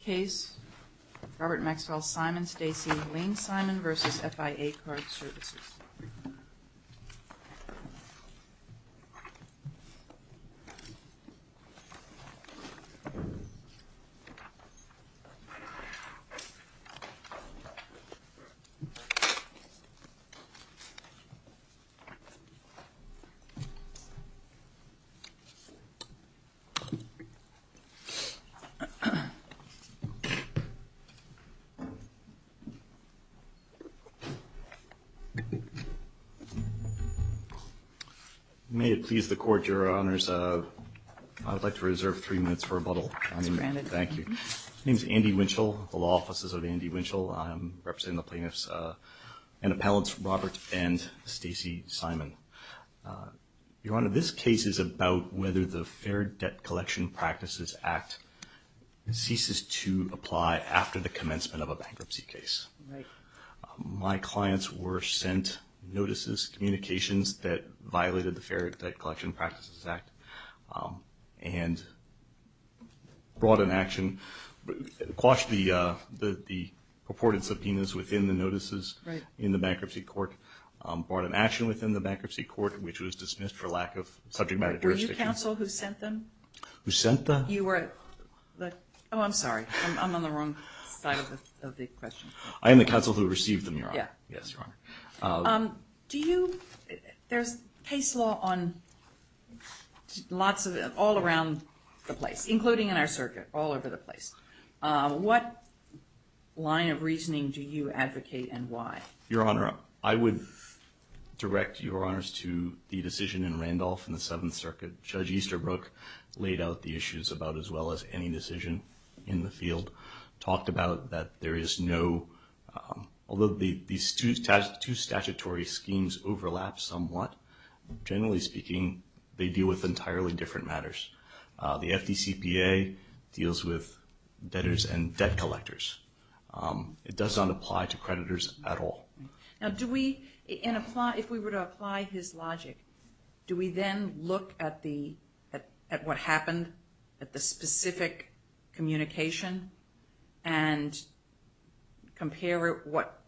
Case, Robert Maxwell-Simon-Stacy, Lane-Simon v. FIA Card Services May it please the Court, Your Honours, I would like to reserve three minutes for rebuttal. Granted. Thank you. My name is Andy Winchell of the Law Offices of Andy Winchell. I am representing the plaintiffs and appellants Robert and Stacy Simon. Your Honour, this Fair Debt Collection Practices Act ceases to apply after the commencement of a bankruptcy case. My clients were sent notices, communications that violated the Fair Debt Collection Practices Act and brought an action, quashed the purported subpoenas within the notices in the bankruptcy court, brought an action within the bankruptcy court which was dismissed for lack of subject Who sent them? Oh, I'm sorry. I'm on the wrong side of the question. I am the counsel who received them, Your Honour. Yes, Your Honour. Do you, there's case law on lots of, all around the place, including in our circuit, all over the place. What line of reasoning do you advocate and why? Your Honour, I would direct Your Honours to the decision in Randolph in the issues about as well as any decision in the field. Talked about that there is no, although these two statutory schemes overlap somewhat, generally speaking they deal with entirely different matters. The FDCPA deals with debtors and debt collectors. It does not apply to creditors at all. Now do we, and apply, if we were to apply his logic, do we then look at the, at what happened, at the specific communication and compare what,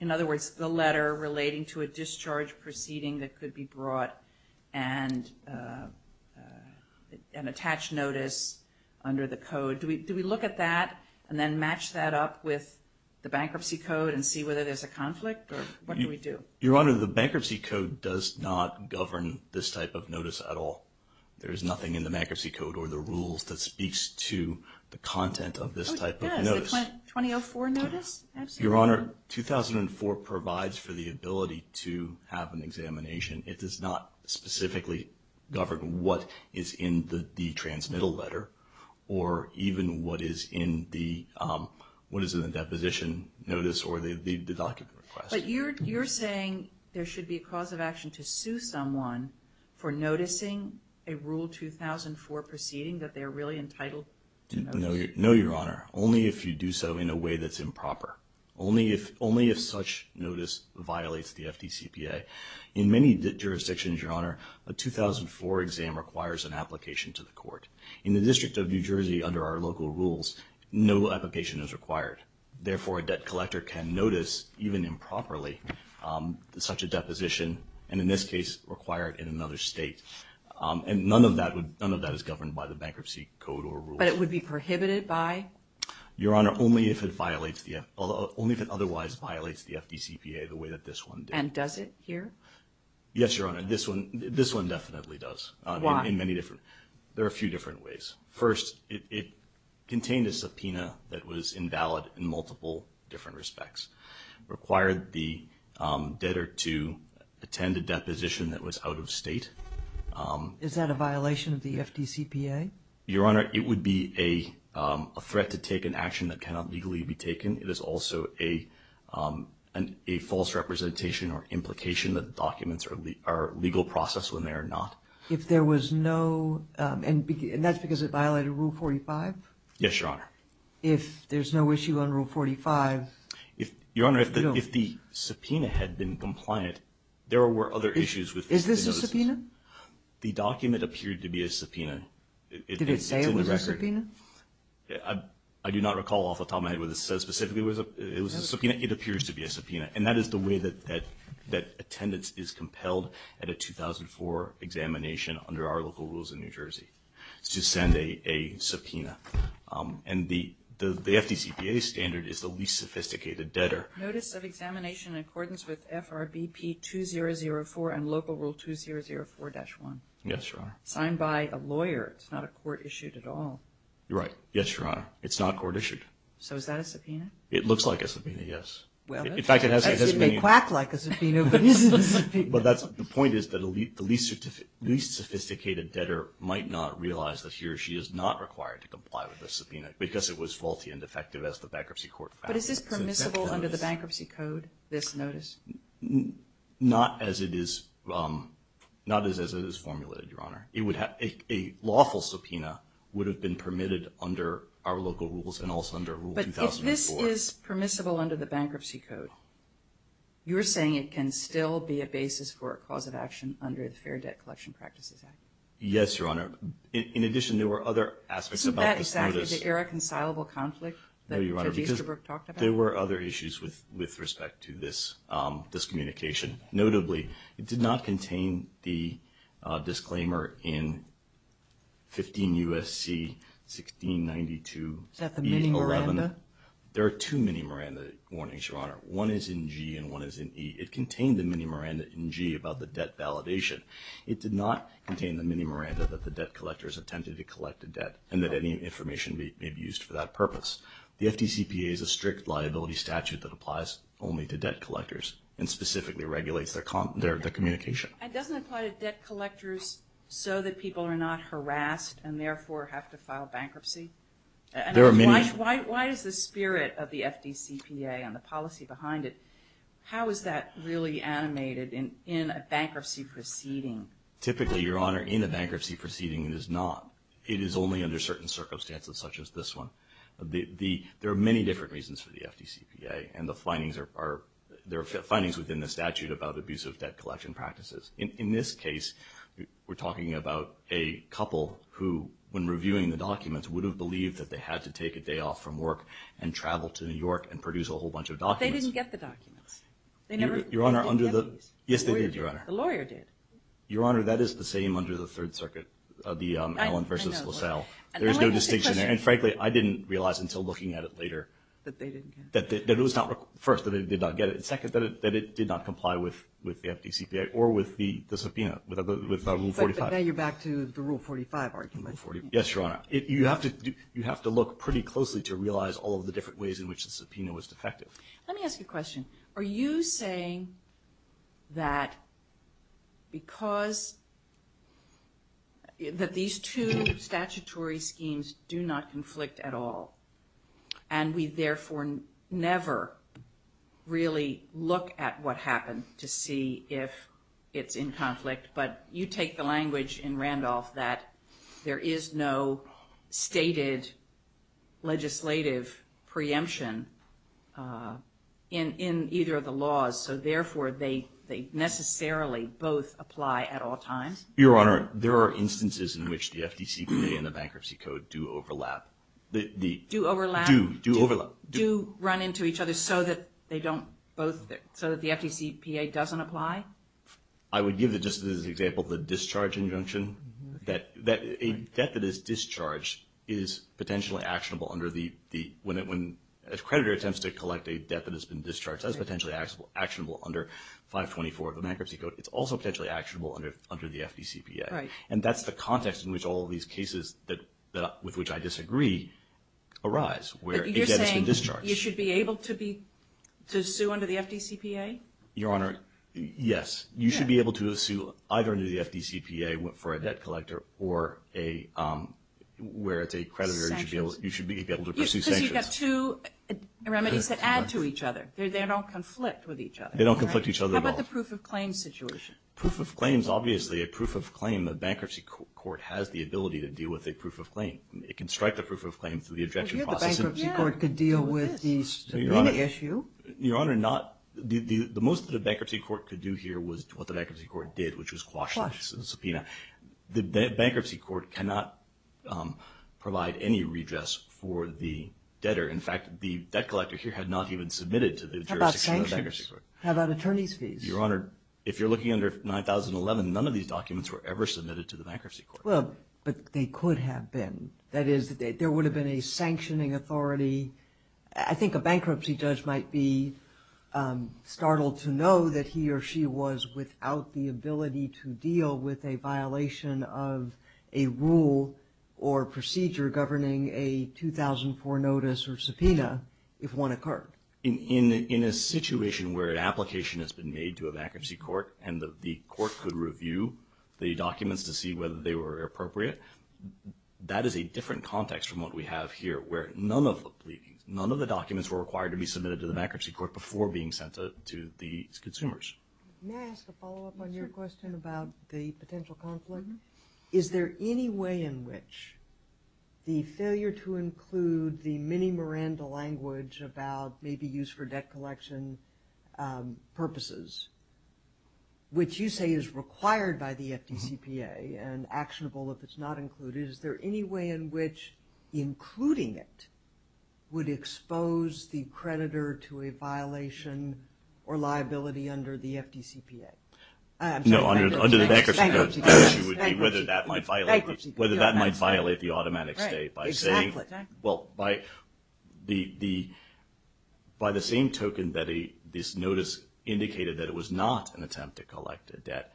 in other words, the letter relating to a discharge proceeding that could be brought and attach notice under the code? Do we look at that and then match that up with the bankruptcy code and see whether there's a conflict or what do we do? Your Honour, the bankruptcy code does not govern this type of notice at all. There is nothing in the bankruptcy code or the rules that speaks to the content of this type of notice. Oh it does, the 2004 notice? Your Honour, 2004 provides for the ability to have an examination. It does not specifically govern what is in the transmittal letter or even what is in the, what is in the deposition notice or the document request. But you're saying there should be a cause of action to sue someone for noticing a Rule 2004 proceeding that they're really entitled to notice? No, Your Honour. Only if you do so in a way that's improper. Only if such notice violates the FDCPA. In many jurisdictions, Your Honour, a 2004 exam requires an application to the court. In the District of New Jersey under our local rules, no application is required. Therefore, a debt collector can notice even improperly such a deposition and in this case require it in another state. And none of that would, none of that is governed by the bankruptcy code or rules. But it would be prohibited by? Your Honour, only if it violates the, only if it otherwise violates the FDCPA the way that this one did. And does it here? Yes, Your Honour. This one, this one definitely does. Why? In many different, there are a few different ways. First, it contained a subpoena that was invalid in multiple different respects. Required the debtor to attend a deposition that was out of state. Is that a violation of the FDCPA? Your Honour, it would be a threat to take an action that cannot legally be taken. It is also a false representation or implication that documents are legal process when they are not. If there was no, and that's because it violated Rule 45? Yes, Your Honour. If there's no issue on Rule 45? Your Honour, if the subpoena had been compliant, there were other issues. Is this a subpoena? The document appeared to be a subpoena. Did it say specifically it was a subpoena? It appears to be a subpoena. And that is the way that attendance is compelled at a 2004 examination under our local rules in New Jersey, to send a subpoena. And the FDCPA standard is the least sophisticated debtor. Notice of examination in accordance with FRBP 2004 and Local Rule 2004-1. Yes, Your Honour. Signed by a lawyer. It's not a court-issued at all. You're right. Yes, Your Honour. It's not court-issued. So is that a subpoena? It looks like a subpoena, yes. Well, it may quack like a subpoena, but it isn't a subpoena. The point is that the least sophisticated debtor might not realize that he or she is not required to comply with the subpoena because it was faulty and defective as the Bankruptcy Court found it. But is this permissible under the Bankruptcy Code, this lawful subpoena would have been permitted under our local rules and also under Rule 2004. But if this is permissible under the Bankruptcy Code, you're saying it can still be a basis for a cause of action under the Fair Debt Collection Practices Act? Yes, Your Honour. In addition, there were other aspects about this notice. Isn't that exactly the irreconcilable conflict that Judge Easterbrook talked about? No, Your Honour, because there were other issues with respect to this discommunication. Notably, it did not contain the disclaimer in 15 U.S.C. 1692-E-11. Is that the mini-Miranda? There are two mini-Miranda warnings, Your Honour. One is in G and one is in E. It contained the mini-Miranda in G about the debt validation. It did not contain the mini-Miranda that the debt collectors attempted to collect a debt and that any information may be used for that purpose. The FDCPA is a strict liability statute that applies only to debt collectors and specifically regulates their communication. And doesn't it apply to debt collectors so that people are not harassed and therefore have to file bankruptcy? Why is the spirit of the FDCPA and the policy behind it, how is that really animated in a bankruptcy proceeding? Typically, Your Honour, in a bankruptcy proceeding it is not. It is only under certain circumstances such as this one. There are many different In this case, we're talking about a couple who, when reviewing the documents, would have believed that they had to take a day off from work and travel to New York and produce a whole bunch of documents. But they didn't get the documents. They never went to the FDC. Yes, they did, Your Honour. The lawyer did. Your Honour, that is the same under the Third Circuit, the Allen v. LaSalle. There is no distinction. And frankly, I didn't realize until looking at it later that it was not, first, that they did not get it, and second, that it did not comply with the FDCPA or with the subpoena, with Rule 45. But now you're back to the Rule 45 argument. Yes, Your Honour. You have to look pretty closely to realize all of the different ways in which the subpoena was defective. Let me ask you a question. Are you saying that because, that these two statutory schemes do not conflict at all, and we therefore never really look at what happened to see if it's in conflict, but you take the language in Randolph that there is no stated legislative preemption in either of the laws, so therefore they necessarily both apply at all times? Your Honour, there are instances in which the FDCPA and the bankruptcy code do overlap. Do overlap? Do overlap. Do run into each other so that they don't both, so that the FDCPA doesn't apply? I would give just as an example the discharge injunction, that a debt that is discharged is potentially actionable under the, when a creditor attempts to collect a debt that has been discharged, that's potentially actionable under 524 of the bankruptcy code. It's also potentially actionable under the FDCPA. Right. And that's the context in which all of these cases with which I disagree arise, where a debt has been discharged. But you're saying you should be able to sue under the FDCPA? Your Honour, yes. You should be able to sue either under the FDCPA for a debt collector or a, where it's a creditor, you should be able to pursue sanctions. Because you've got two remedies that add to each other. They don't conflict with each other. How about the proof of claim situation? Proof of claim is obviously a proof of claim. The bankruptcy court has the ability to deal with a proof of claim. It can strike the proof of claim through the objection process. But here the bankruptcy court could deal with the subpoena issue. Your Honour, not, the most that a bankruptcy court could do here was what the bankruptcy court did, which was quash the subpoena. The bankruptcy court cannot provide any redress for the debtor. In fact, the debt collector here had not even submitted to the jurisdiction of the bankruptcy court. How about attorney's fees? Your Honour, if you're looking under 9011, none of these documents were ever submitted to the bankruptcy court. Well, but they could have been. That is, there would have been a sanctioning authority. I think a bankruptcy judge might be startled to know that he or she was without the ability to deal with a violation of a rule or procedure governing a 2004 notice or subpoena if one occurred. In a situation where an application has been made to a bankruptcy court and the court could review the documents to see whether they were appropriate, that is a different context from what we have here where none of the documents were required to be submitted to the bankruptcy court before being sent to the consumers. May I ask a follow-up on your question about the potential conflict? Is there any way in which the failure to include the mini Miranda language about maybe use for debt collection purposes, which you say is required by the FDCPA and actionable if it's not included, is there any way in which including it would expose the creditor to a violation or liability under the FDCPA? No, under the bankruptcy code, the issue would be whether that might violate the automatic stay by saying, well, by the same token that this notice indicated that it was not an attempt to collect a debt,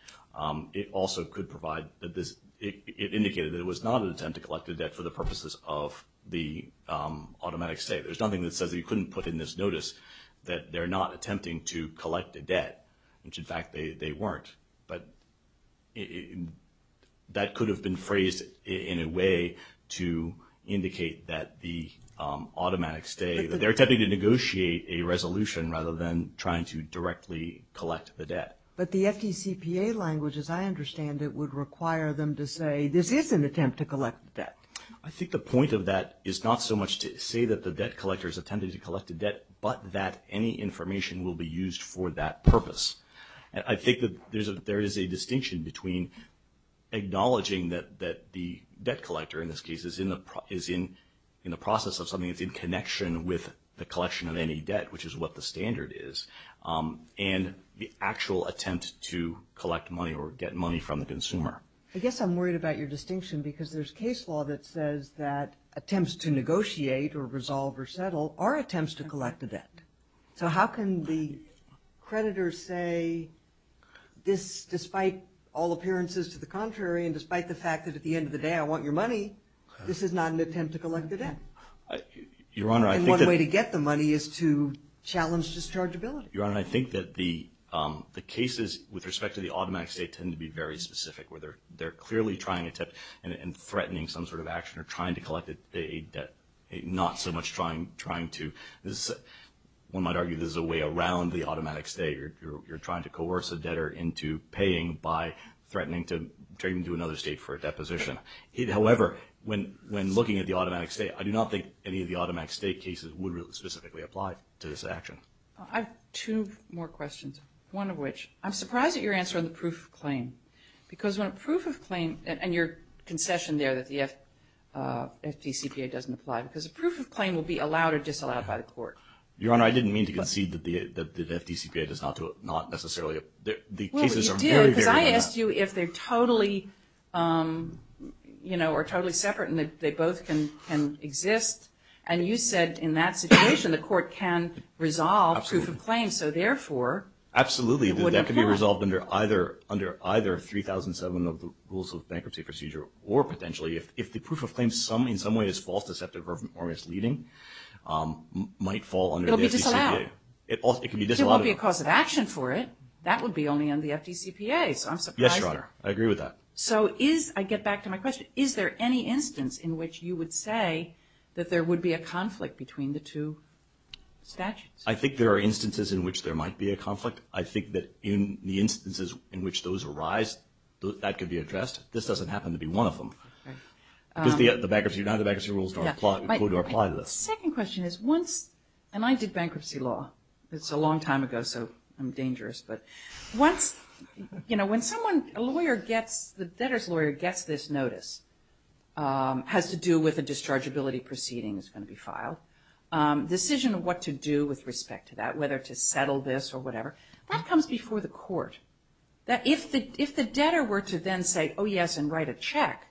it also could provide, it indicated that it was not an attempt to collect a debt for the purposes of the automatic stay. There's nothing that says that you couldn't put in this notice that they're not attempting to collect a debt, which in fact they weren't. But that could have been phrased in a way to indicate that the automatic stay, that they're attempting to negotiate a resolution rather than trying to directly collect the debt. But the FDCPA language, as I understand it, would require them to say this is an attempt to collect debt. I think the point of that is not so much to say that the debt collectors attempted to collect a debt, but that any information will be used for that purpose. I think that there is a distinction between acknowledging that the debt collector, in this case, is in the process of something that's in connection with the collection of any debt, which is what the standard is, and the actual attempt to collect money or get money from the consumer. I guess I'm worried about your distinction because there's case law that says that attempts to negotiate or resolve or settle are attempts to collect a debt. So how can the creditors say this despite all appearances to the contrary and despite the fact that at the end of the day I want your money, this is not an attempt to collect a debt? Your Honor, I think that- And one way to get the money is to challenge dischargeability. Your Honor, I think that the cases with respect to the automatic stay tend to be very specific, where they're clearly trying to attempt and threatening some sort of action or trying to collect a debt, not so much trying to- One might argue this is a way around the automatic stay. You're trying to coerce a debtor into paying by threatening to trade him to another state for a deposition. However, when looking at the automatic stay, I do not think any of the automatic stay cases would really specifically apply to this action. I have two more questions, one of which, I'm surprised at your answer on the proof of claim, because when a proof of claim, and your concession there that the FDCPA doesn't apply, because a proof of claim will be allowed or disallowed by the court. Your Honor, I didn't mean to concede that the FDCPA does not necessarily- Well, you did, because I asked you if they're totally separate and they both can exist, and you said in that situation the court can resolve proof of claim, so therefore- Absolutely, that could be resolved under either 3007 of the Rules of Bankruptcy Procedure, or potentially if the proof of claim in some way is false, deceptive, or misleading, might fall under the FDCPA. It'll be disallowed. It can be disallowed. There won't be a cause of action for it. That would be only on the FDCPA, so I'm surprised. Yes, Your Honor, I agree with that. So is, I get back to my question, is there any instance in which you would say that there would be a conflict between the two statutes? I think there are instances in which there might be a conflict. I think that in the instances in which those arise, that could be addressed. This doesn't happen to be one of them, because the bankruptcy, none of the bankruptcy rules don't apply to this. My second question is once, and I did bankruptcy law. It's a long time ago, so I'm dangerous, but once, you know, when someone, a lawyer gets, the debtor's lawyer gets this notice, has to do with a dischargeability proceeding that's going to be filed. Decision of what to do with respect to that, whether to settle this or whatever, that comes before the court. If the debtor were to then say, oh yes, and write a check,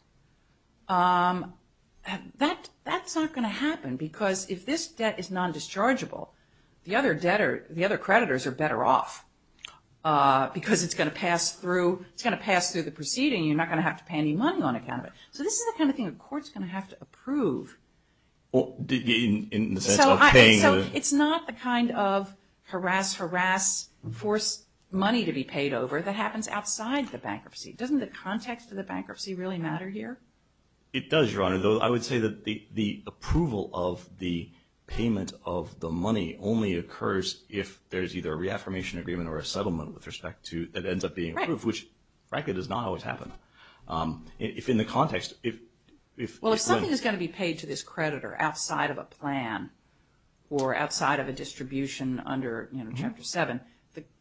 that's not going to happen, because if this debt is non-dischargeable, the other debtor, the other creditors are better off, because it's going to pass through, it's going to pass through the proceeding. You're not going to have to pay any money on account of it. So this is the kind of thing a court's going to have to approve. In the sense of paying? So it's not the kind of harass, harass, force money to be paid over that happens outside the bankruptcy. Doesn't the context of the bankruptcy really matter here? It does, Your Honor. I would say that the approval of the payment of the money only occurs if there's either a reaffirmation agreement or a settlement with respect to it that ends up being approved, which frankly does not always happen. If in the context, if- Well, if something is going to be paid to this creditor outside of a plan or outside of a distribution under, you know, Chapter 7,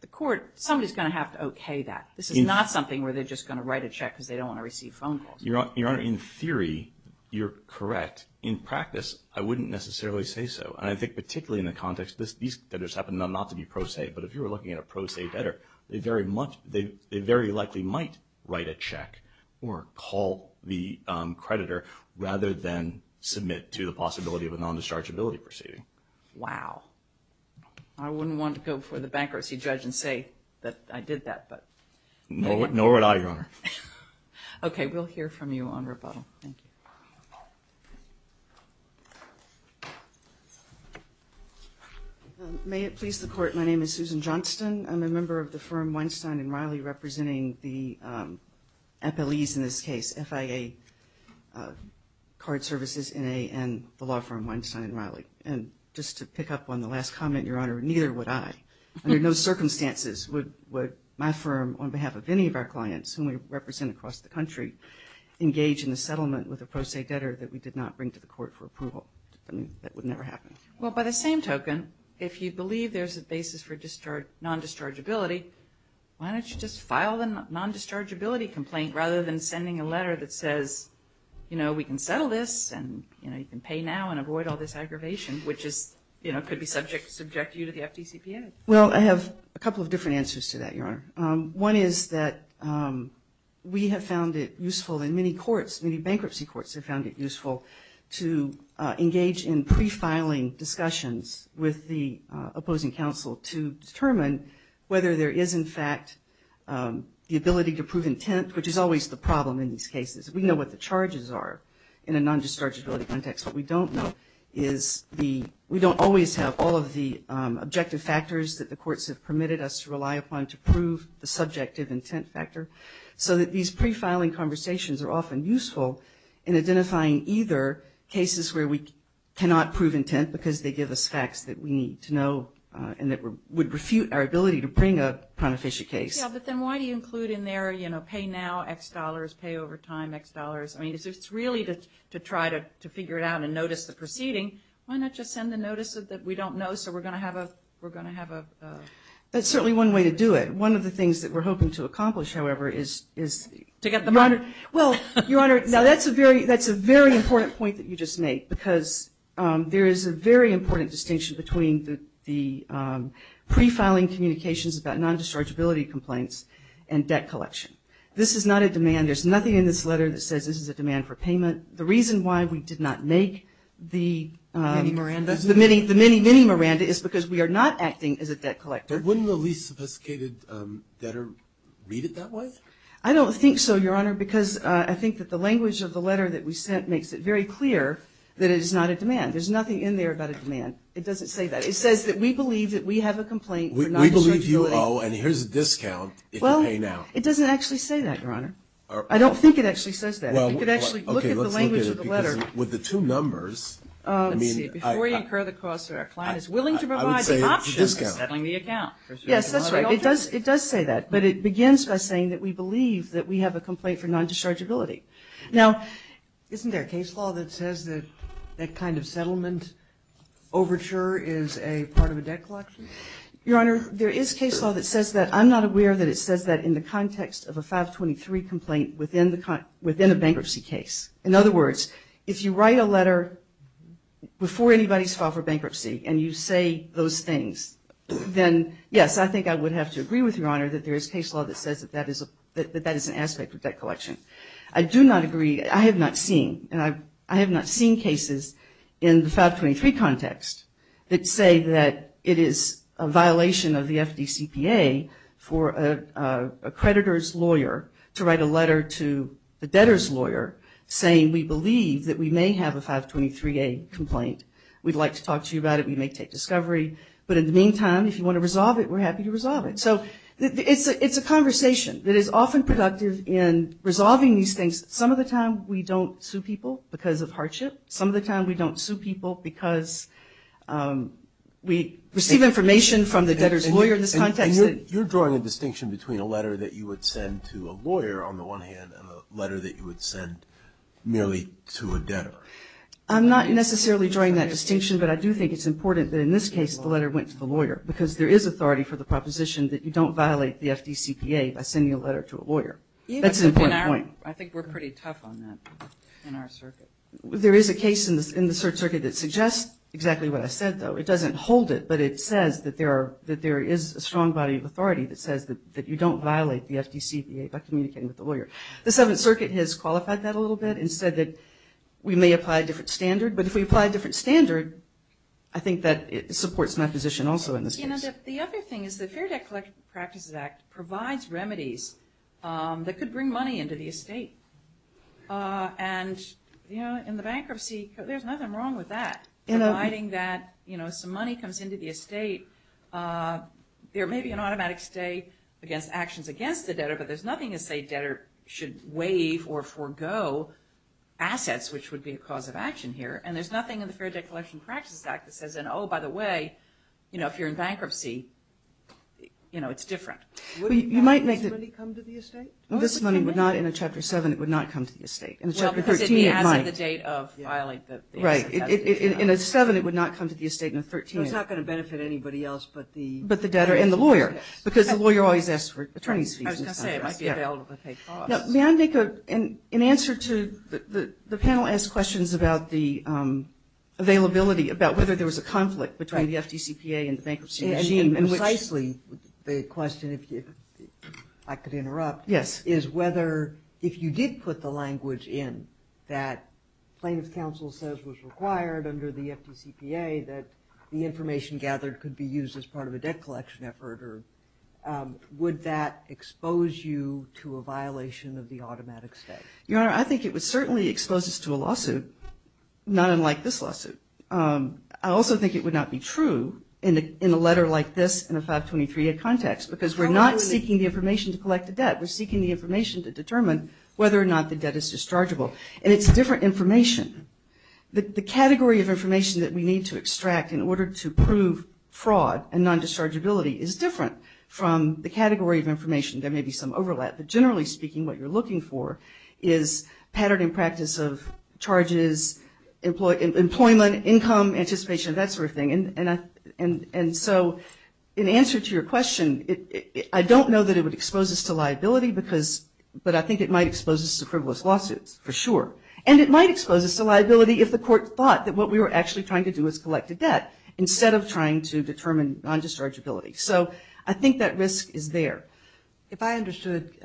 the court, somebody's going to have to okay that. This is not something where they're just going to write a check because they don't want to receive phone calls. Your Honor, in theory, you're correct. In practice, I wouldn't necessarily say so. And I think particularly in the context, these debtors happen not to be pro se, but if you were looking at a pro se debtor, they very likely might write a check or call the creditor rather than submit to the possibility of a non-dischargeability proceeding. Wow. I wouldn't want to go before the bankruptcy judge and say that I did that, but- Nor would I, Your Honor. Okay. We'll hear from you on rebuttal. Thank you. May it please the Court, my name is Susan Johnston. I'm a member of the firm Weinstein & Riley representing the FLEs in this case, FIA card services and the law firm Weinstein & Riley. And just to pick up on the last comment, Your Honor, neither would I. Under no circumstances would my firm, on behalf of any of our clients whom we represent across the country, engage in the settlement with a pro se debtor that we did not bring to the court for approval. That would never happen. Well, by the same token, if you believe there's a basis for non-dischargeability, why don't you just file a non-dischargeability complaint rather than sending a letter that says, you know, we can settle this and, you know, you can pay now and avoid all this aggravation, which is, you know, could be subject to you to the FDCPA. Well, I have a couple of different answers to that, Your Honor. One is that we have found it useful in many courts, many bankruptcy courts have found it useful to engage in pre-filing discussions with the opposing counsel to determine whether there is, in fact, the ability to prove intent, which is always the problem in these cases. We know what the charges are in a non-dischargeability context. What we don't know is we don't always have all of the objective factors that the courts have permitted us to rely upon to prove the subjective intent factor, so that these pre-filing conversations are often useful in identifying either cases where we cannot prove intent because they give us facts that we need to know and that would refute our ability to bring a prima facie case. Yeah, but then why do you include in there, you know, pay now, X dollars, pay over time, X dollars? I mean, if it's really to try to figure it out and notice the proceeding, why not just send a notice that we don't know so we're going to have a – we're going to have a – That's certainly one way to do it. One of the things that we're hoping to accomplish, however, is – To get the money. Well, Your Honor, now that's a very important point that you just made because there is a very important distinction between the pre-filing communications about non-dischargeability complaints and debt collection. This is not a demand. There's nothing in this letter that says this is a demand for payment. The reason why we did not make the – Mini Miranda. The mini, mini Miranda is because we are not acting as a debt collector. Wouldn't the least sophisticated debtor read it that way? I don't think so, Your Honor, because I think that the language of the letter that we sent makes it very clear that it is not a demand. There's nothing in there about a demand. It doesn't say that. It says that we believe that we have a complaint for non-dischargeability. We believe you owe, and here's a discount if you pay now. Well, it doesn't actually say that, Your Honor. I don't think it actually says that. We could actually look at the language of the letter. Well, okay, let's look at it because with the two numbers – Let's see. Before you incur the cost, our client is willing to provide the option of settling the account. Yes, that's right. It does say that. But it begins by saying that we believe that we have a complaint for non-dischargeability. Now – Isn't there a case law that says that that kind of settlement overture is a part of a debt collection? Your Honor, there is case law that says that. I'm not aware that it says that in the context of a 523 complaint within a bankruptcy case. And you say those things. Then, yes, I think I would have to agree with you, Your Honor, that there is case law that says that that is an aspect of debt collection. I do not agree. I have not seen. I have not seen cases in the 523 context that say that it is a violation of the FDCPA for a creditor's lawyer to write a letter to the debtor's lawyer saying we believe that we may have a 523A complaint. We'd like to talk to you about it. We may take discovery. But in the meantime, if you want to resolve it, we're happy to resolve it. So it's a conversation that is often productive in resolving these things. Some of the time we don't sue people because of hardship. Some of the time we don't sue people because we receive information from the debtor's lawyer in this context. And you're drawing a distinction between a letter that you would send to a lawyer, on the one hand, and a letter that you would send merely to a debtor. I'm not necessarily drawing that distinction, but I do think it's important that in this case the letter went to the lawyer because there is authority for the proposition that you don't violate the FDCPA by sending a letter to a lawyer. That's an important point. I think we're pretty tough on that in our circuit. There is a case in the circuit that suggests exactly what I said, though. It doesn't hold it, but it says that there is a strong body of authority that says that you don't violate the FDCPA by communicating with the lawyer. The Seventh Circuit has qualified that a little bit and said that we may apply a different standard. But if we apply a different standard, I think that it supports my position also in this case. You know, the other thing is the Fair Debt Collective Practices Act provides remedies that could bring money into the estate. And, you know, in the bankruptcy, there's nothing wrong with that. Providing that, you know, some money comes into the estate, there may be an automatic stay against actions against the debtor, but there's nothing to say debtor should waive or forego assets, which would be a cause of action here. And there's nothing in the Fair Debt Collection Practices Act that says, oh, by the way, you know, if you're in bankruptcy, you know, it's different. You might make this money come to the estate. This money would not, in a Chapter 7, it would not come to the estate. In a Chapter 13, it might. Well, because it has the date of violate the asset. Right. In a 7, it would not come to the estate. In a 13, it would not. So it's not going to benefit anybody else but the debtor. But the debtor and the lawyer, because the lawyer always asks for attorney's fees. I was going to say, it might be available at a paid cost. Now, may I make an answer to the panel asked questions about the availability, about whether there was a conflict between the FDCPA and the bankruptcy regime. Precisely the question, if I could interrupt. Yes. Is whether if you did put the language in that plaintiff's counsel says was required under the FDCPA, that the information gathered could be used as part of a debt collection effort, would that expose you to a violation of the automatic state? Your Honor, I think it would certainly expose us to a lawsuit not unlike this lawsuit. I also think it would not be true in a letter like this in a 523-A context, because we're not seeking the information to collect the debt. We're seeking the information to determine whether or not the debt is dischargeable. And it's different information. The category of information that we need to extract in order to prove fraud and non-dischargeability is different from the category of information. There may be some overlap. But generally speaking, what you're looking for is pattern and practice of charges, employment, income, anticipation, that sort of thing. And so in answer to your question, I don't know that it would expose us to liability, but I think it might expose us to frivolous lawsuits for sure. And it might expose us to liability if the court thought that what we were actually trying to do was collect the debt instead of trying to determine non-dischargeability. So I think that risk is there. If I understood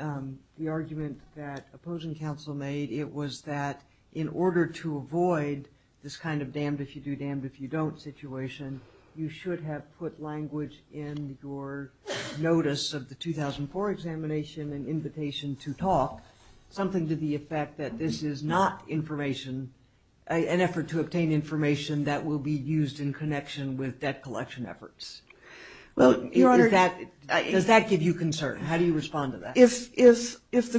the argument that opposing counsel made, it was that in order to avoid this kind of damned if you do, damned if you don't situation, you should have put language in your notice of the 2004 examination and invitation to talk, something to the effect that this is not information, an effort to obtain information that will be used in connection with debt collection efforts. Does that give you concern? How do you respond to that? If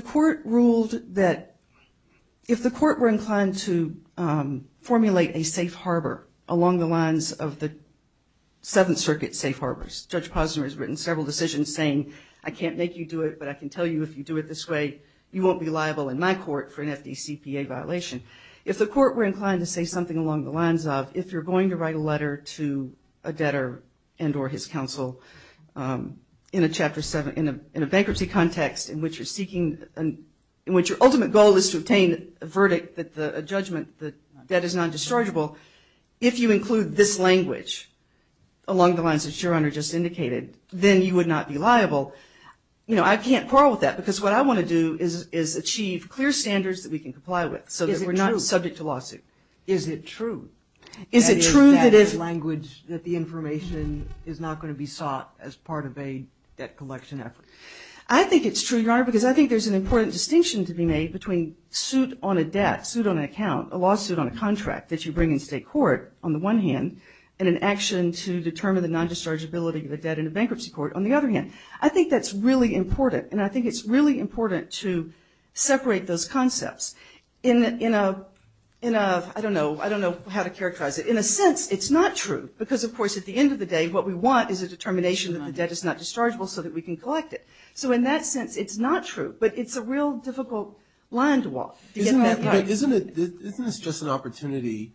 the court were inclined to formulate a safe harbor along the lines of the Seventh Circuit safe harbors, Judge Posner has written several decisions saying, I can't make you do it, but I can tell you if you do it this way, you won't be liable in my court for an FDCPA violation. If the court were inclined to say something along the lines of, if you're going to write a letter to a debtor and or his counsel in a bankruptcy context in which your ultimate goal is to obtain a verdict, a judgment that is non-dischargeable, if you include this language along the lines that your honor just indicated, then you would not be liable. I can't quarrel with that because what I want to do is achieve clear standards that we can comply with so that we're not subject to lawsuit. Is it true? Is it true that the information is not going to be sought as part of a debt collection effort? I think it's true, your honor, because I think there's an important distinction to be made between suit on a debt, suit on an account, a lawsuit on a contract that you bring in state court, on the one hand, and an action to determine the non-dischargeability of the debt in a bankruptcy court, on the other hand. I think that's really important, and I think it's really important to separate those concepts. I don't know how to characterize it. In a sense, it's not true because, of course, at the end of the day, what we want is a determination that the debt is not dischargeable so that we can collect it. So in that sense, it's not true, but it's a real difficult line to walk. Isn't this just an opportunity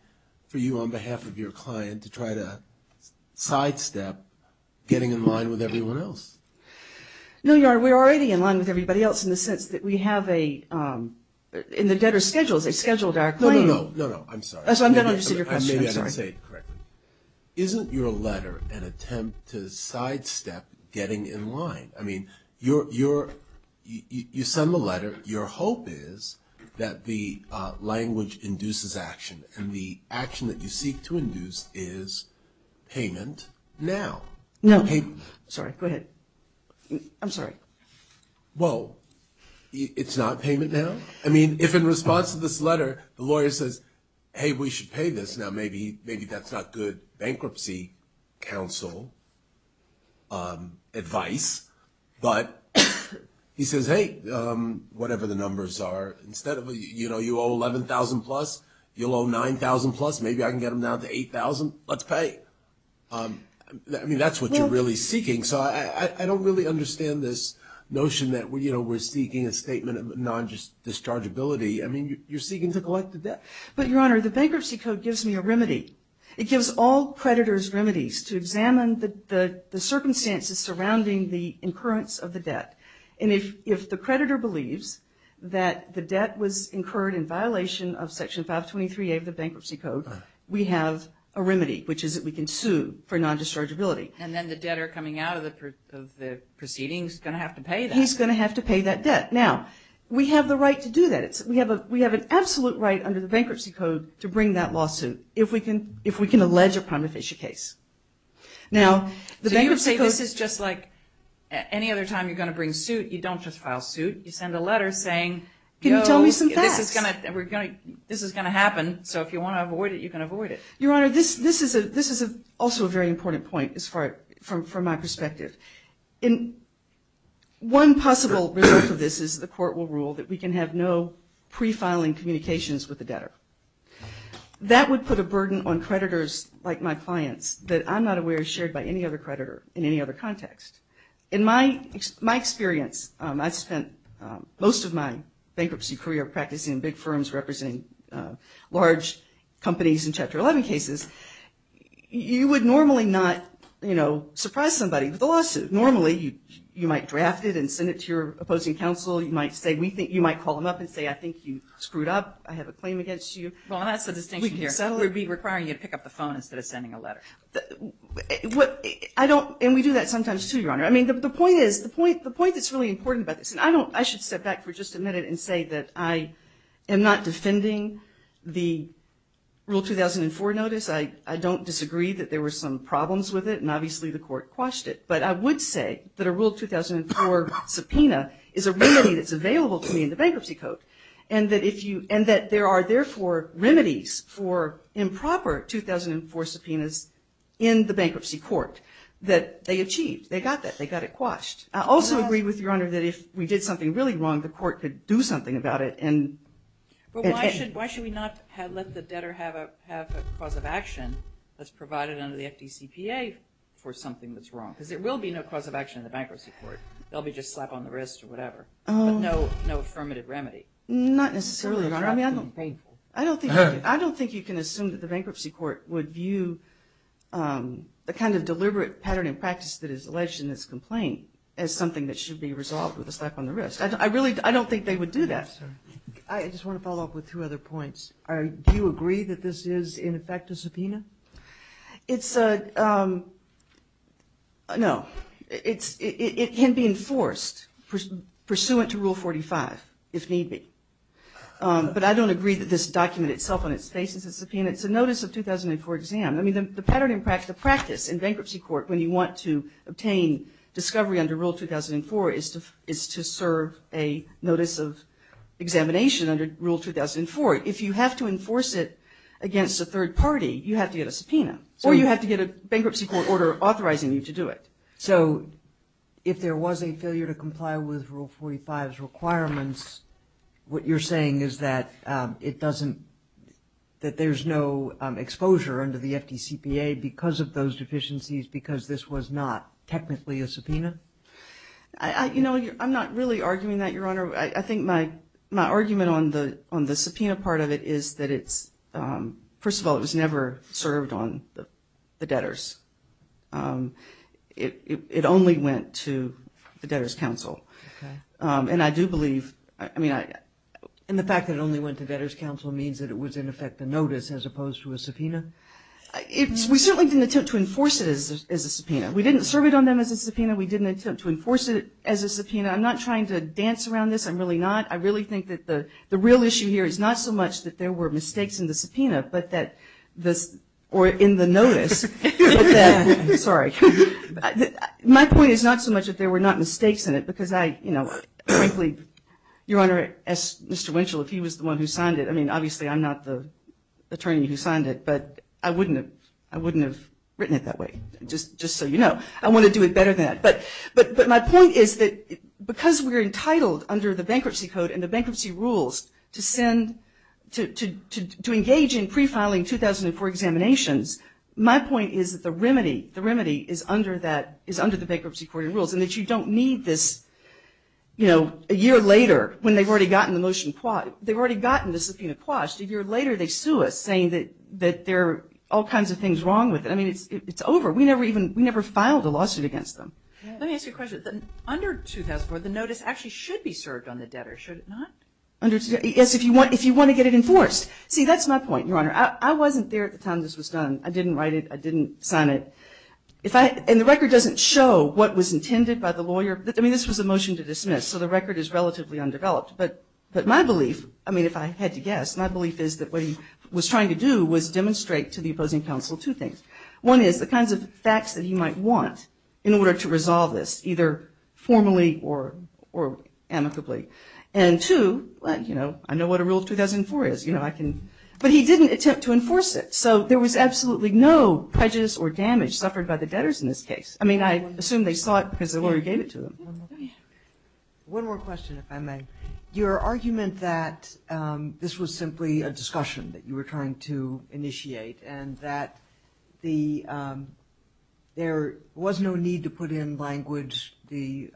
for you on behalf of your client to try to sidestep getting in line with everyone else? No, your honor, we're already in line with everybody else in the sense that we have a – in the debtor's schedules, they scheduled our claim. No, no, no, I'm sorry. I'm sorry, I don't understand your question. I may have said it correctly. Isn't your letter an attempt to sidestep getting in line? I mean, you send the letter. Your hope is that the language induces action, and the action that you seek to induce is payment now. No. Sorry, go ahead. I'm sorry. Well, it's not payment now? I mean, if in response to this letter the lawyer says, hey, we should pay this, now maybe that's not good bankruptcy counsel advice, but he says, hey, whatever the numbers are, instead of, you know, you owe $11,000 plus, you'll owe $9,000 plus, maybe I can get them down to $8,000, let's pay. I mean, that's what you're really seeking. So I don't really understand this notion that, you know, we're seeking a statement of non-dischargeability. I mean, you're seeking to collect the debt. But, Your Honor, the Bankruptcy Code gives me a remedy. It gives all creditors remedies to examine the circumstances surrounding the incurrence of the debt. And if the creditor believes that the debt was incurred in violation of Section 523A of the Bankruptcy Code, he can sue for non-dischargeability. And then the debtor coming out of the proceedings is going to have to pay that. He's going to have to pay that debt. Now, we have the right to do that. We have an absolute right under the Bankruptcy Code to bring that lawsuit, if we can allege a prima facie case. Now, the Bankruptcy Code – So you're saying this is just like any other time you're going to bring suit, you don't just file suit, you send a letter saying – Can you tell me some facts? This is going to happen, so if you want to avoid it, you can avoid it. Your Honor, this is also a very important point from my perspective. One possible result of this is the court will rule that we can have no pre-filing communications with the debtor. That would put a burden on creditors, like my clients, that I'm not aware is shared by any other creditor in any other context. In my experience, I spent most of my bankruptcy career practicing in big firms representing large companies in Chapter 11 cases. You would normally not surprise somebody with a lawsuit. Normally, you might draft it and send it to your opposing counsel. You might call them up and say, I think you screwed up. I have a claim against you. Well, that's the distinction here. We can settle it. We'd be requiring you to pick up the phone instead of sending a letter. And we do that sometimes, too, Your Honor. I mean, the point is – the point that's really important about this, and I don't – I should step back for just a minute and say that I am not defending the Rule 2004 notice. I don't disagree that there were some problems with it, and obviously the court quashed it. But I would say that a Rule 2004 subpoena is a remedy that's available to me in the bankruptcy code, and that if you – and that there are, therefore, remedies for improper 2004 subpoenas in the bankruptcy court that they achieved. They got that. They got it quashed. I also agree with you, Your Honor, that if we did something really wrong, the court could do something about it. But why should we not let the debtor have a cause of action that's provided under the FDCPA for something that's wrong? Because there will be no cause of action in the bankruptcy court. There will be just slap on the wrist or whatever, but no affirmative remedy. Not necessarily, Your Honor. I don't think you can assume that the bankruptcy court would view the kind of as something that should be resolved with a slap on the wrist. I really – I don't think they would do that. I just want to follow up with two other points. Do you agree that this is, in effect, a subpoena? It's a – no. It can be enforced pursuant to Rule 45, if need be. But I don't agree that this document itself on its face is a subpoena. It's a notice of 2004 exam. I mean, the pattern in practice in bankruptcy court when you want to obtain discovery under Rule 2004 is to serve a notice of examination under Rule 2004. If you have to enforce it against a third party, you have to get a subpoena, or you have to get a bankruptcy court order authorizing you to do it. So if there was a failure to comply with Rule 45's requirements, what you're saying is that it doesn't – that there's no exposure under the FDCPA because of those deficiencies because this was not technically a subpoena? You know, I'm not really arguing that, Your Honor. I think my argument on the subpoena part of it is that it's – first of all, it was never served on the debtors. It only went to the Debtors' Council. Okay. And I do believe – I mean, and the fact that it only went to Debtors' Council means that it was, in effect, a notice as opposed to a subpoena? We certainly didn't attempt to enforce it as a subpoena. We didn't serve it on them as a subpoena. We didn't attempt to enforce it as a subpoena. I'm not trying to dance around this. I'm really not. I really think that the real issue here is not so much that there were mistakes in the subpoena, but that – or in the notice. Sorry. My point is not so much that there were not mistakes in it because I, you know, frankly, Your Honor, as Mr. Winchell, if he was the one who signed it – I mean, I wouldn't have written it that way, just so you know. I want to do it better than that. But my point is that because we're entitled under the Bankruptcy Code and the bankruptcy rules to send – to engage in pre-filing 2004 examinations, my point is that the remedy is under the bankruptcy court rules and that you don't need this, you know, a year later when they've already gotten the motion – they've already gotten the subpoena quashed. A year later they sue us saying that there are all kinds of things wrong with it. I mean, it's over. We never even – we never filed a lawsuit against them. Let me ask you a question. Under 2004, the notice actually should be served on the debtor, should it not? Yes, if you want to get it enforced. See, that's my point, Your Honor. I wasn't there at the time this was done. I didn't write it. I didn't sign it. If I – and the record doesn't show what was intended by the lawyer. I mean, this was a motion to dismiss, so the record is relatively undeveloped. But my belief, I mean, if I had to guess, my belief is that what he was trying to do was demonstrate to the opposing counsel two things. One is the kinds of facts that he might want in order to resolve this, either formally or amicably. And two, you know, I know what a rule of 2004 is. You know, I can – but he didn't attempt to enforce it. So there was absolutely no prejudice or damage suffered by the debtors in this case. I mean, I assume they saw it because the lawyer gave it to them. One more question, if I may. Your argument that this was simply a discussion that you were trying to initiate and that there was no need to put in language, the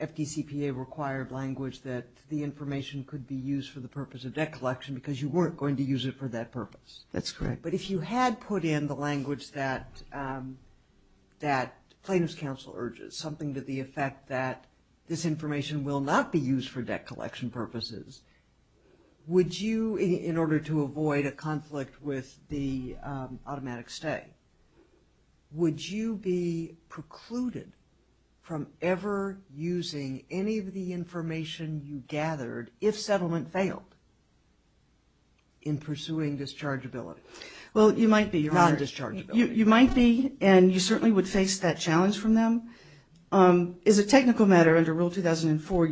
FDCPA required language, that the information could be used for the purpose of debt collection because you weren't going to use it for that purpose. That's correct. But if you had put in the language that plaintiff's counsel urges, something to the effect that this information will not be used for debt collection purposes, would you, in order to avoid a conflict with the automatic stay, would you be precluded from ever using any of the information you gathered if settlement failed in pursuing dischargeability? Well, you might be. Non-dischargeability. You might be, and you certainly would face that challenge from them. As a technical matter, under Rule 2004,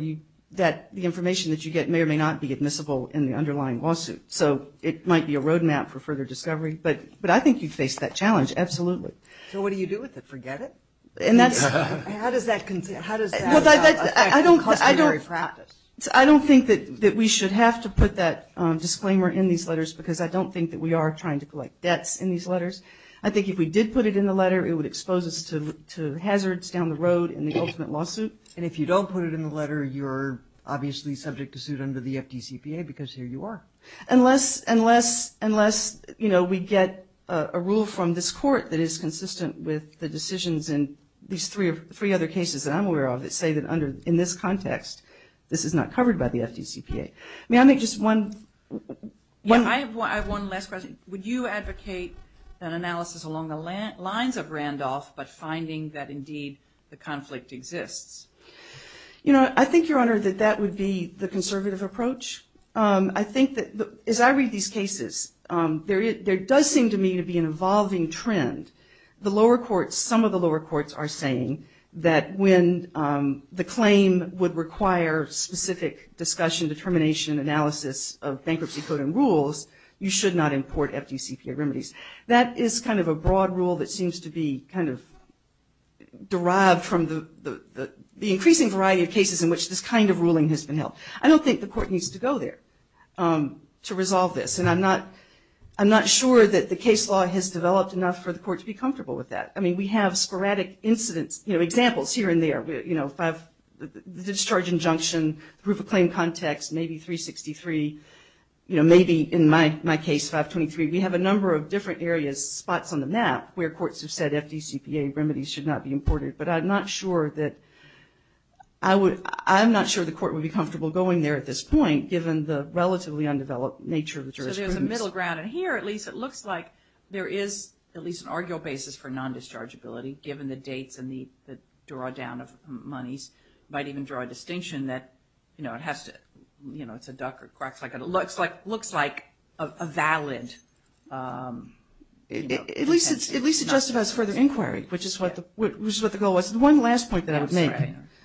the information that you get may or may not be admissible in the underlying lawsuit. So it might be a roadmap for further discovery. But I think you'd face that challenge, absolutely. So what do you do with it? Forget it? How does that affect the customary practice? I don't think that we should have to put that disclaimer in these letters because I don't think that we are trying to collect debts in these letters. I think if we did put it in the letter, it would expose us to hazards down the road in the ultimate lawsuit. And if you don't put it in the letter, you're obviously subject to suit under the FDCPA because here you are. Unless we get a rule from this court that is consistent with the decisions in these three other cases that I'm aware of that say that in this context, this is not covered by the FDCPA. May I make just one? Yeah, I have one last question. Would you advocate an analysis along the lines of Randolph but finding that indeed the conflict exists? You know, I think, Your Honor, that that would be the conservative approach. I think that as I read these cases, there does seem to me to be an evolving trend. The lower courts, some of the lower courts, are saying that when the claim would require specific discussion, determination, analysis of bankruptcy code and rules, you should not import FDCPA remedies. That is kind of a broad rule that seems to be kind of derived from the increasing variety of cases in which this kind of ruling has been held. I don't think the court needs to go there to resolve this, and I'm not sure that the case law has developed enough for the court to be comfortable with that. I mean, we have sporadic incidents, you know, examples here and there. You know, the discharge injunction, the proof of claim context, maybe 363. You know, maybe in my case, 523. We have a number of different areas, spots on the map, where courts have said FDCPA remedies should not be imported. But I'm not sure that I would – I'm not sure the court would be comfortable going there at this point, given the relatively undeveloped nature of the jurisprudence. So there's a middle ground. And here, at least, it looks like there is at least an arguable basis for non-dischargeability, given the dates and the drawdown of monies. It might even draw a distinction that, you know, it has to – you know, it's a duck or a quack. It looks like a valid – At least it justifies further inquiry, which is what the goal was. One last point that I would make.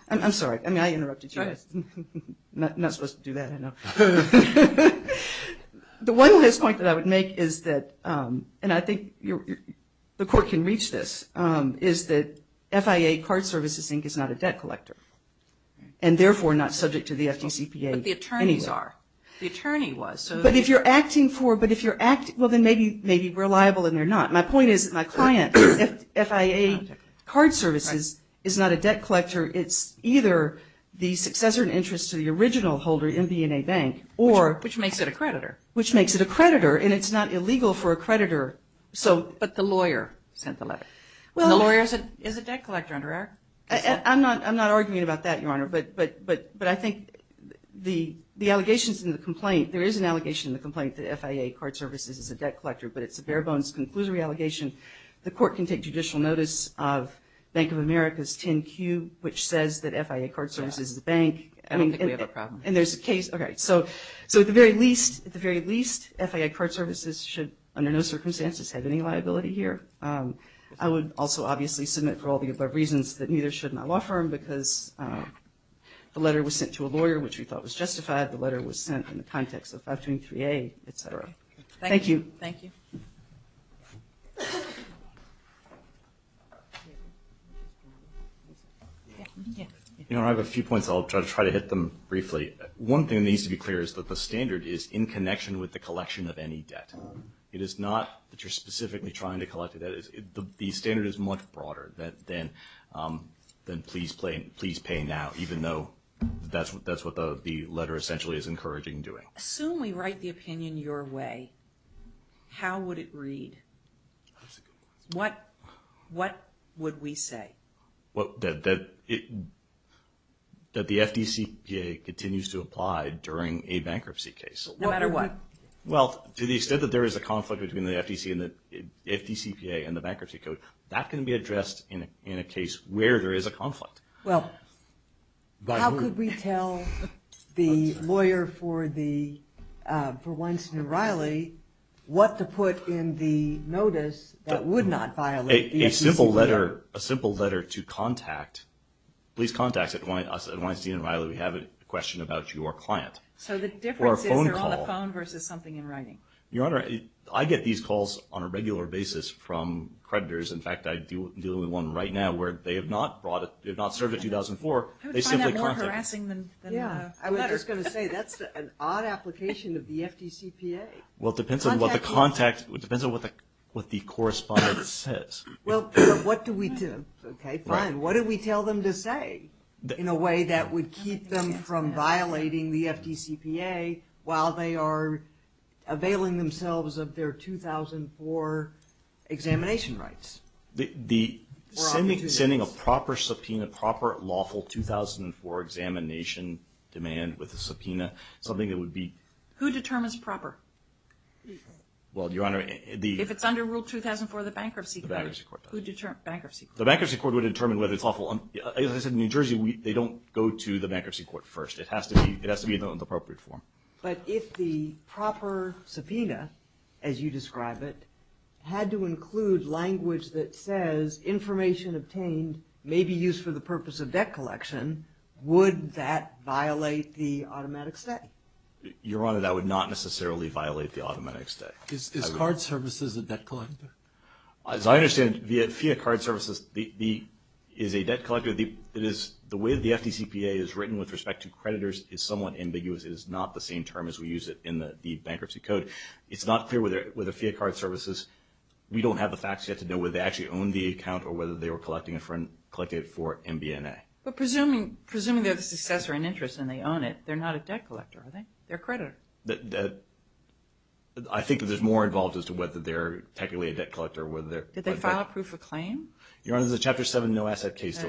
I'm sorry. I mean, I interrupted you. I'm not supposed to do that, I know. The one last point that I would make is that – and I think the court can reach this – is that FIA card services, I think, is not a debt collector, and therefore not subject to the FDCPA anyway. But the attorneys are. The attorney was. But if you're acting for – but if you're acting – well, then maybe we're liable and they're not. My point is that my client, FIA card services, is not a debt collector. It's either the successor in interest to the original holder in B&A Bank or – Which makes it a creditor. Which makes it a creditor. And it's not illegal for a creditor. But the lawyer sent the letter. Well – And the lawyer is a debt collector under our – I'm not arguing about that, Your Honor. But I think the allegations in the complaint – there is an allegation in the complaint that FIA card services is a debt collector, but it's a bare-bones conclusory allegation. The court can take judicial notice of Bank of America's 10Q, which says that FIA card services is a bank. I don't think we have a problem. And there's a case – okay, so at the very least, at the very least, FIA card services should, under no circumstances, have any liability here. I would also obviously submit for all the above reasons that neither should my law firm because the letter was sent to a lawyer, which we thought was justified. The letter was sent in the context of 523A, et cetera. Thank you. Thank you. Thank you. Your Honor, I have a few points. I'll try to hit them briefly. One thing that needs to be clear is that the standard is in connection with the collection of any debt. It is not that you're specifically trying to collect a debt. The standard is much broader than please pay now, even though that's what the letter essentially is encouraging doing. Assume we write the opinion your way. How would it read? What would we say? That the FDCPA continues to apply during a bankruptcy case. No matter what. Well, to the extent that there is a conflict between the FDCPA and the bankruptcy code, that can be addressed in a case where there is a conflict. Well, how could we tell the lawyer for Weinstein and Riley what to put in the notice that would not violate the FDCPA? A simple letter to contact. Please contact us at Weinstein and Riley. We have a question about your client. So the difference is they're on the phone versus something in writing. Your Honor, I get these calls on a regular basis from creditors. In fact, I'm dealing with one right now where they have not served a 2004. I would find that more harassing than a letter. I was just going to say that's an odd application of the FDCPA. Well, it depends on what the correspondence says. What do we tell them to say in a way that would keep them from violating the FDCPA while they are availing themselves of their 2004 examination rights? Sending a proper subpoena, proper lawful 2004 examination demand with a subpoena, something that would be – Who determines proper? Well, Your Honor – If it's under Rule 2004 of the Bankruptcy Code. The Bankruptcy Court does. The Bankruptcy Court. The Bankruptcy Court would determine whether it's lawful. As I said, in New Jersey, they don't go to the Bankruptcy Court first. It has to be in the appropriate form. But if the proper subpoena, as you describe it, had to include language that says, information obtained may be used for the purpose of debt collection, would that violate the automatic stay? Your Honor, that would not necessarily violate the automatic stay. Is card services a debt collector? As I understand it, the fee of card services is a debt collector. The way the FDCPA is written with respect to creditors is somewhat ambiguous. It is not the same term as we use it in the Bankruptcy Code. It's not clear whether fee of card services – we don't have the facts yet to know whether they actually own the account or whether they were collecting it for MBNA. But presuming they're the successor in interest and they own it, they're not a debt collector, are they? They're a creditor. I think that there's more involved as to whether they're technically a debt collector or whether they're – Did they file a proof of claim? Your Honor, there's a Chapter 7 no-asset case.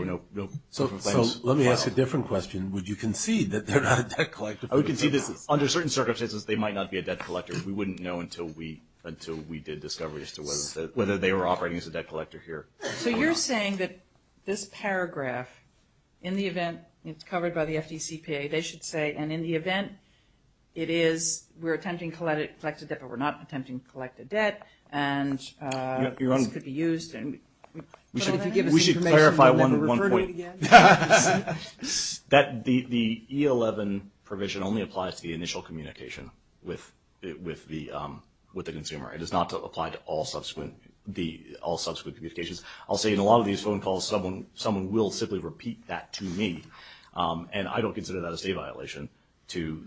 So let me ask a different question. Would you concede that they're not a debt collector? I would concede that under certain circumstances they might not be a debt collector. We wouldn't know until we did discovery as to whether they were operating as a debt collector here. So you're saying that this paragraph, in the event it's covered by the FDCPA, they should say, and in the event it is, we're attempting to collect a debt but we're not attempting to collect a debt, and this could be used. We should clarify one point. The E-11 provision only applies to the initial communication with the consumer. It does not apply to all subsequent communications. I'll say in a lot of these phone calls someone will simply repeat that to me, and I don't consider that a state violation to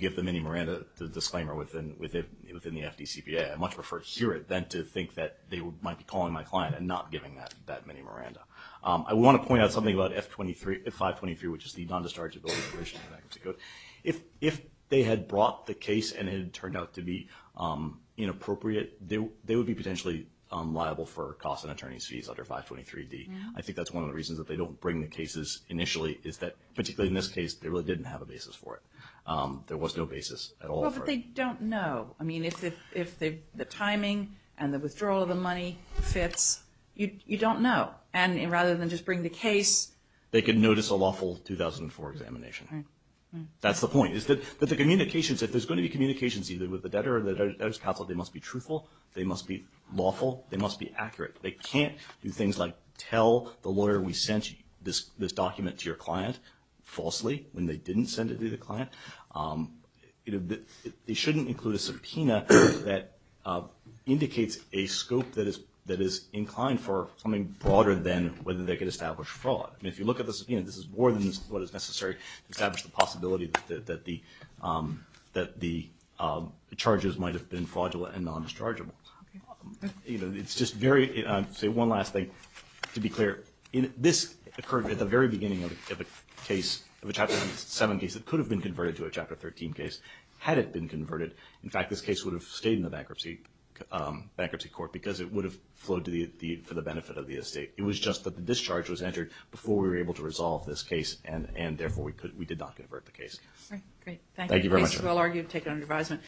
give the mini-Miranda the disclaimer within the FDCPA. I much prefer to hear it than to think that they might be calling my client and not giving that mini-Miranda. I want to point out something about 523, which is the non-dischargeability provision in the bankruptcy code. If they had brought the case and it had turned out to be inappropriate, they would be potentially liable for costs and attorney's fees under 523D. I think that's one of the reasons that they don't bring the cases initially is that, particularly in this case, they really didn't have a basis for it. There was no basis at all for it. Well, but they don't know. I mean, if the timing and the withdrawal of the money fits, you don't know. And rather than just bring the case... They could notice a lawful 2004 examination. That's the point, is that the communications, if there's going to be communications either with the debtor or the debtor's counsel, they must be truthful, they must be lawful, they must be accurate. They can't do things like tell the lawyer we sent this document to your client falsely when they didn't send it to the client. They shouldn't include a subpoena that indicates a scope that is inclined for something broader than whether they could establish fraud. I mean, if you look at the subpoena, this is more than what is necessary to establish the possibility that the charges might have been fraudulent and non-dischargeable. It's just very... I'll say one last thing to be clear. This occurred at the very beginning of a case, of a Chapter 7 case, that could have been converted to a Chapter 13 case had it been converted. In fact, this case would have stayed in the bankruptcy court because it would have flowed for the benefit of the estate. It was just that the discharge was entered before we were able to resolve this case, and therefore we did not convert the case. Great. Thank you. Thank you very much. Case well argued, taken under advisement.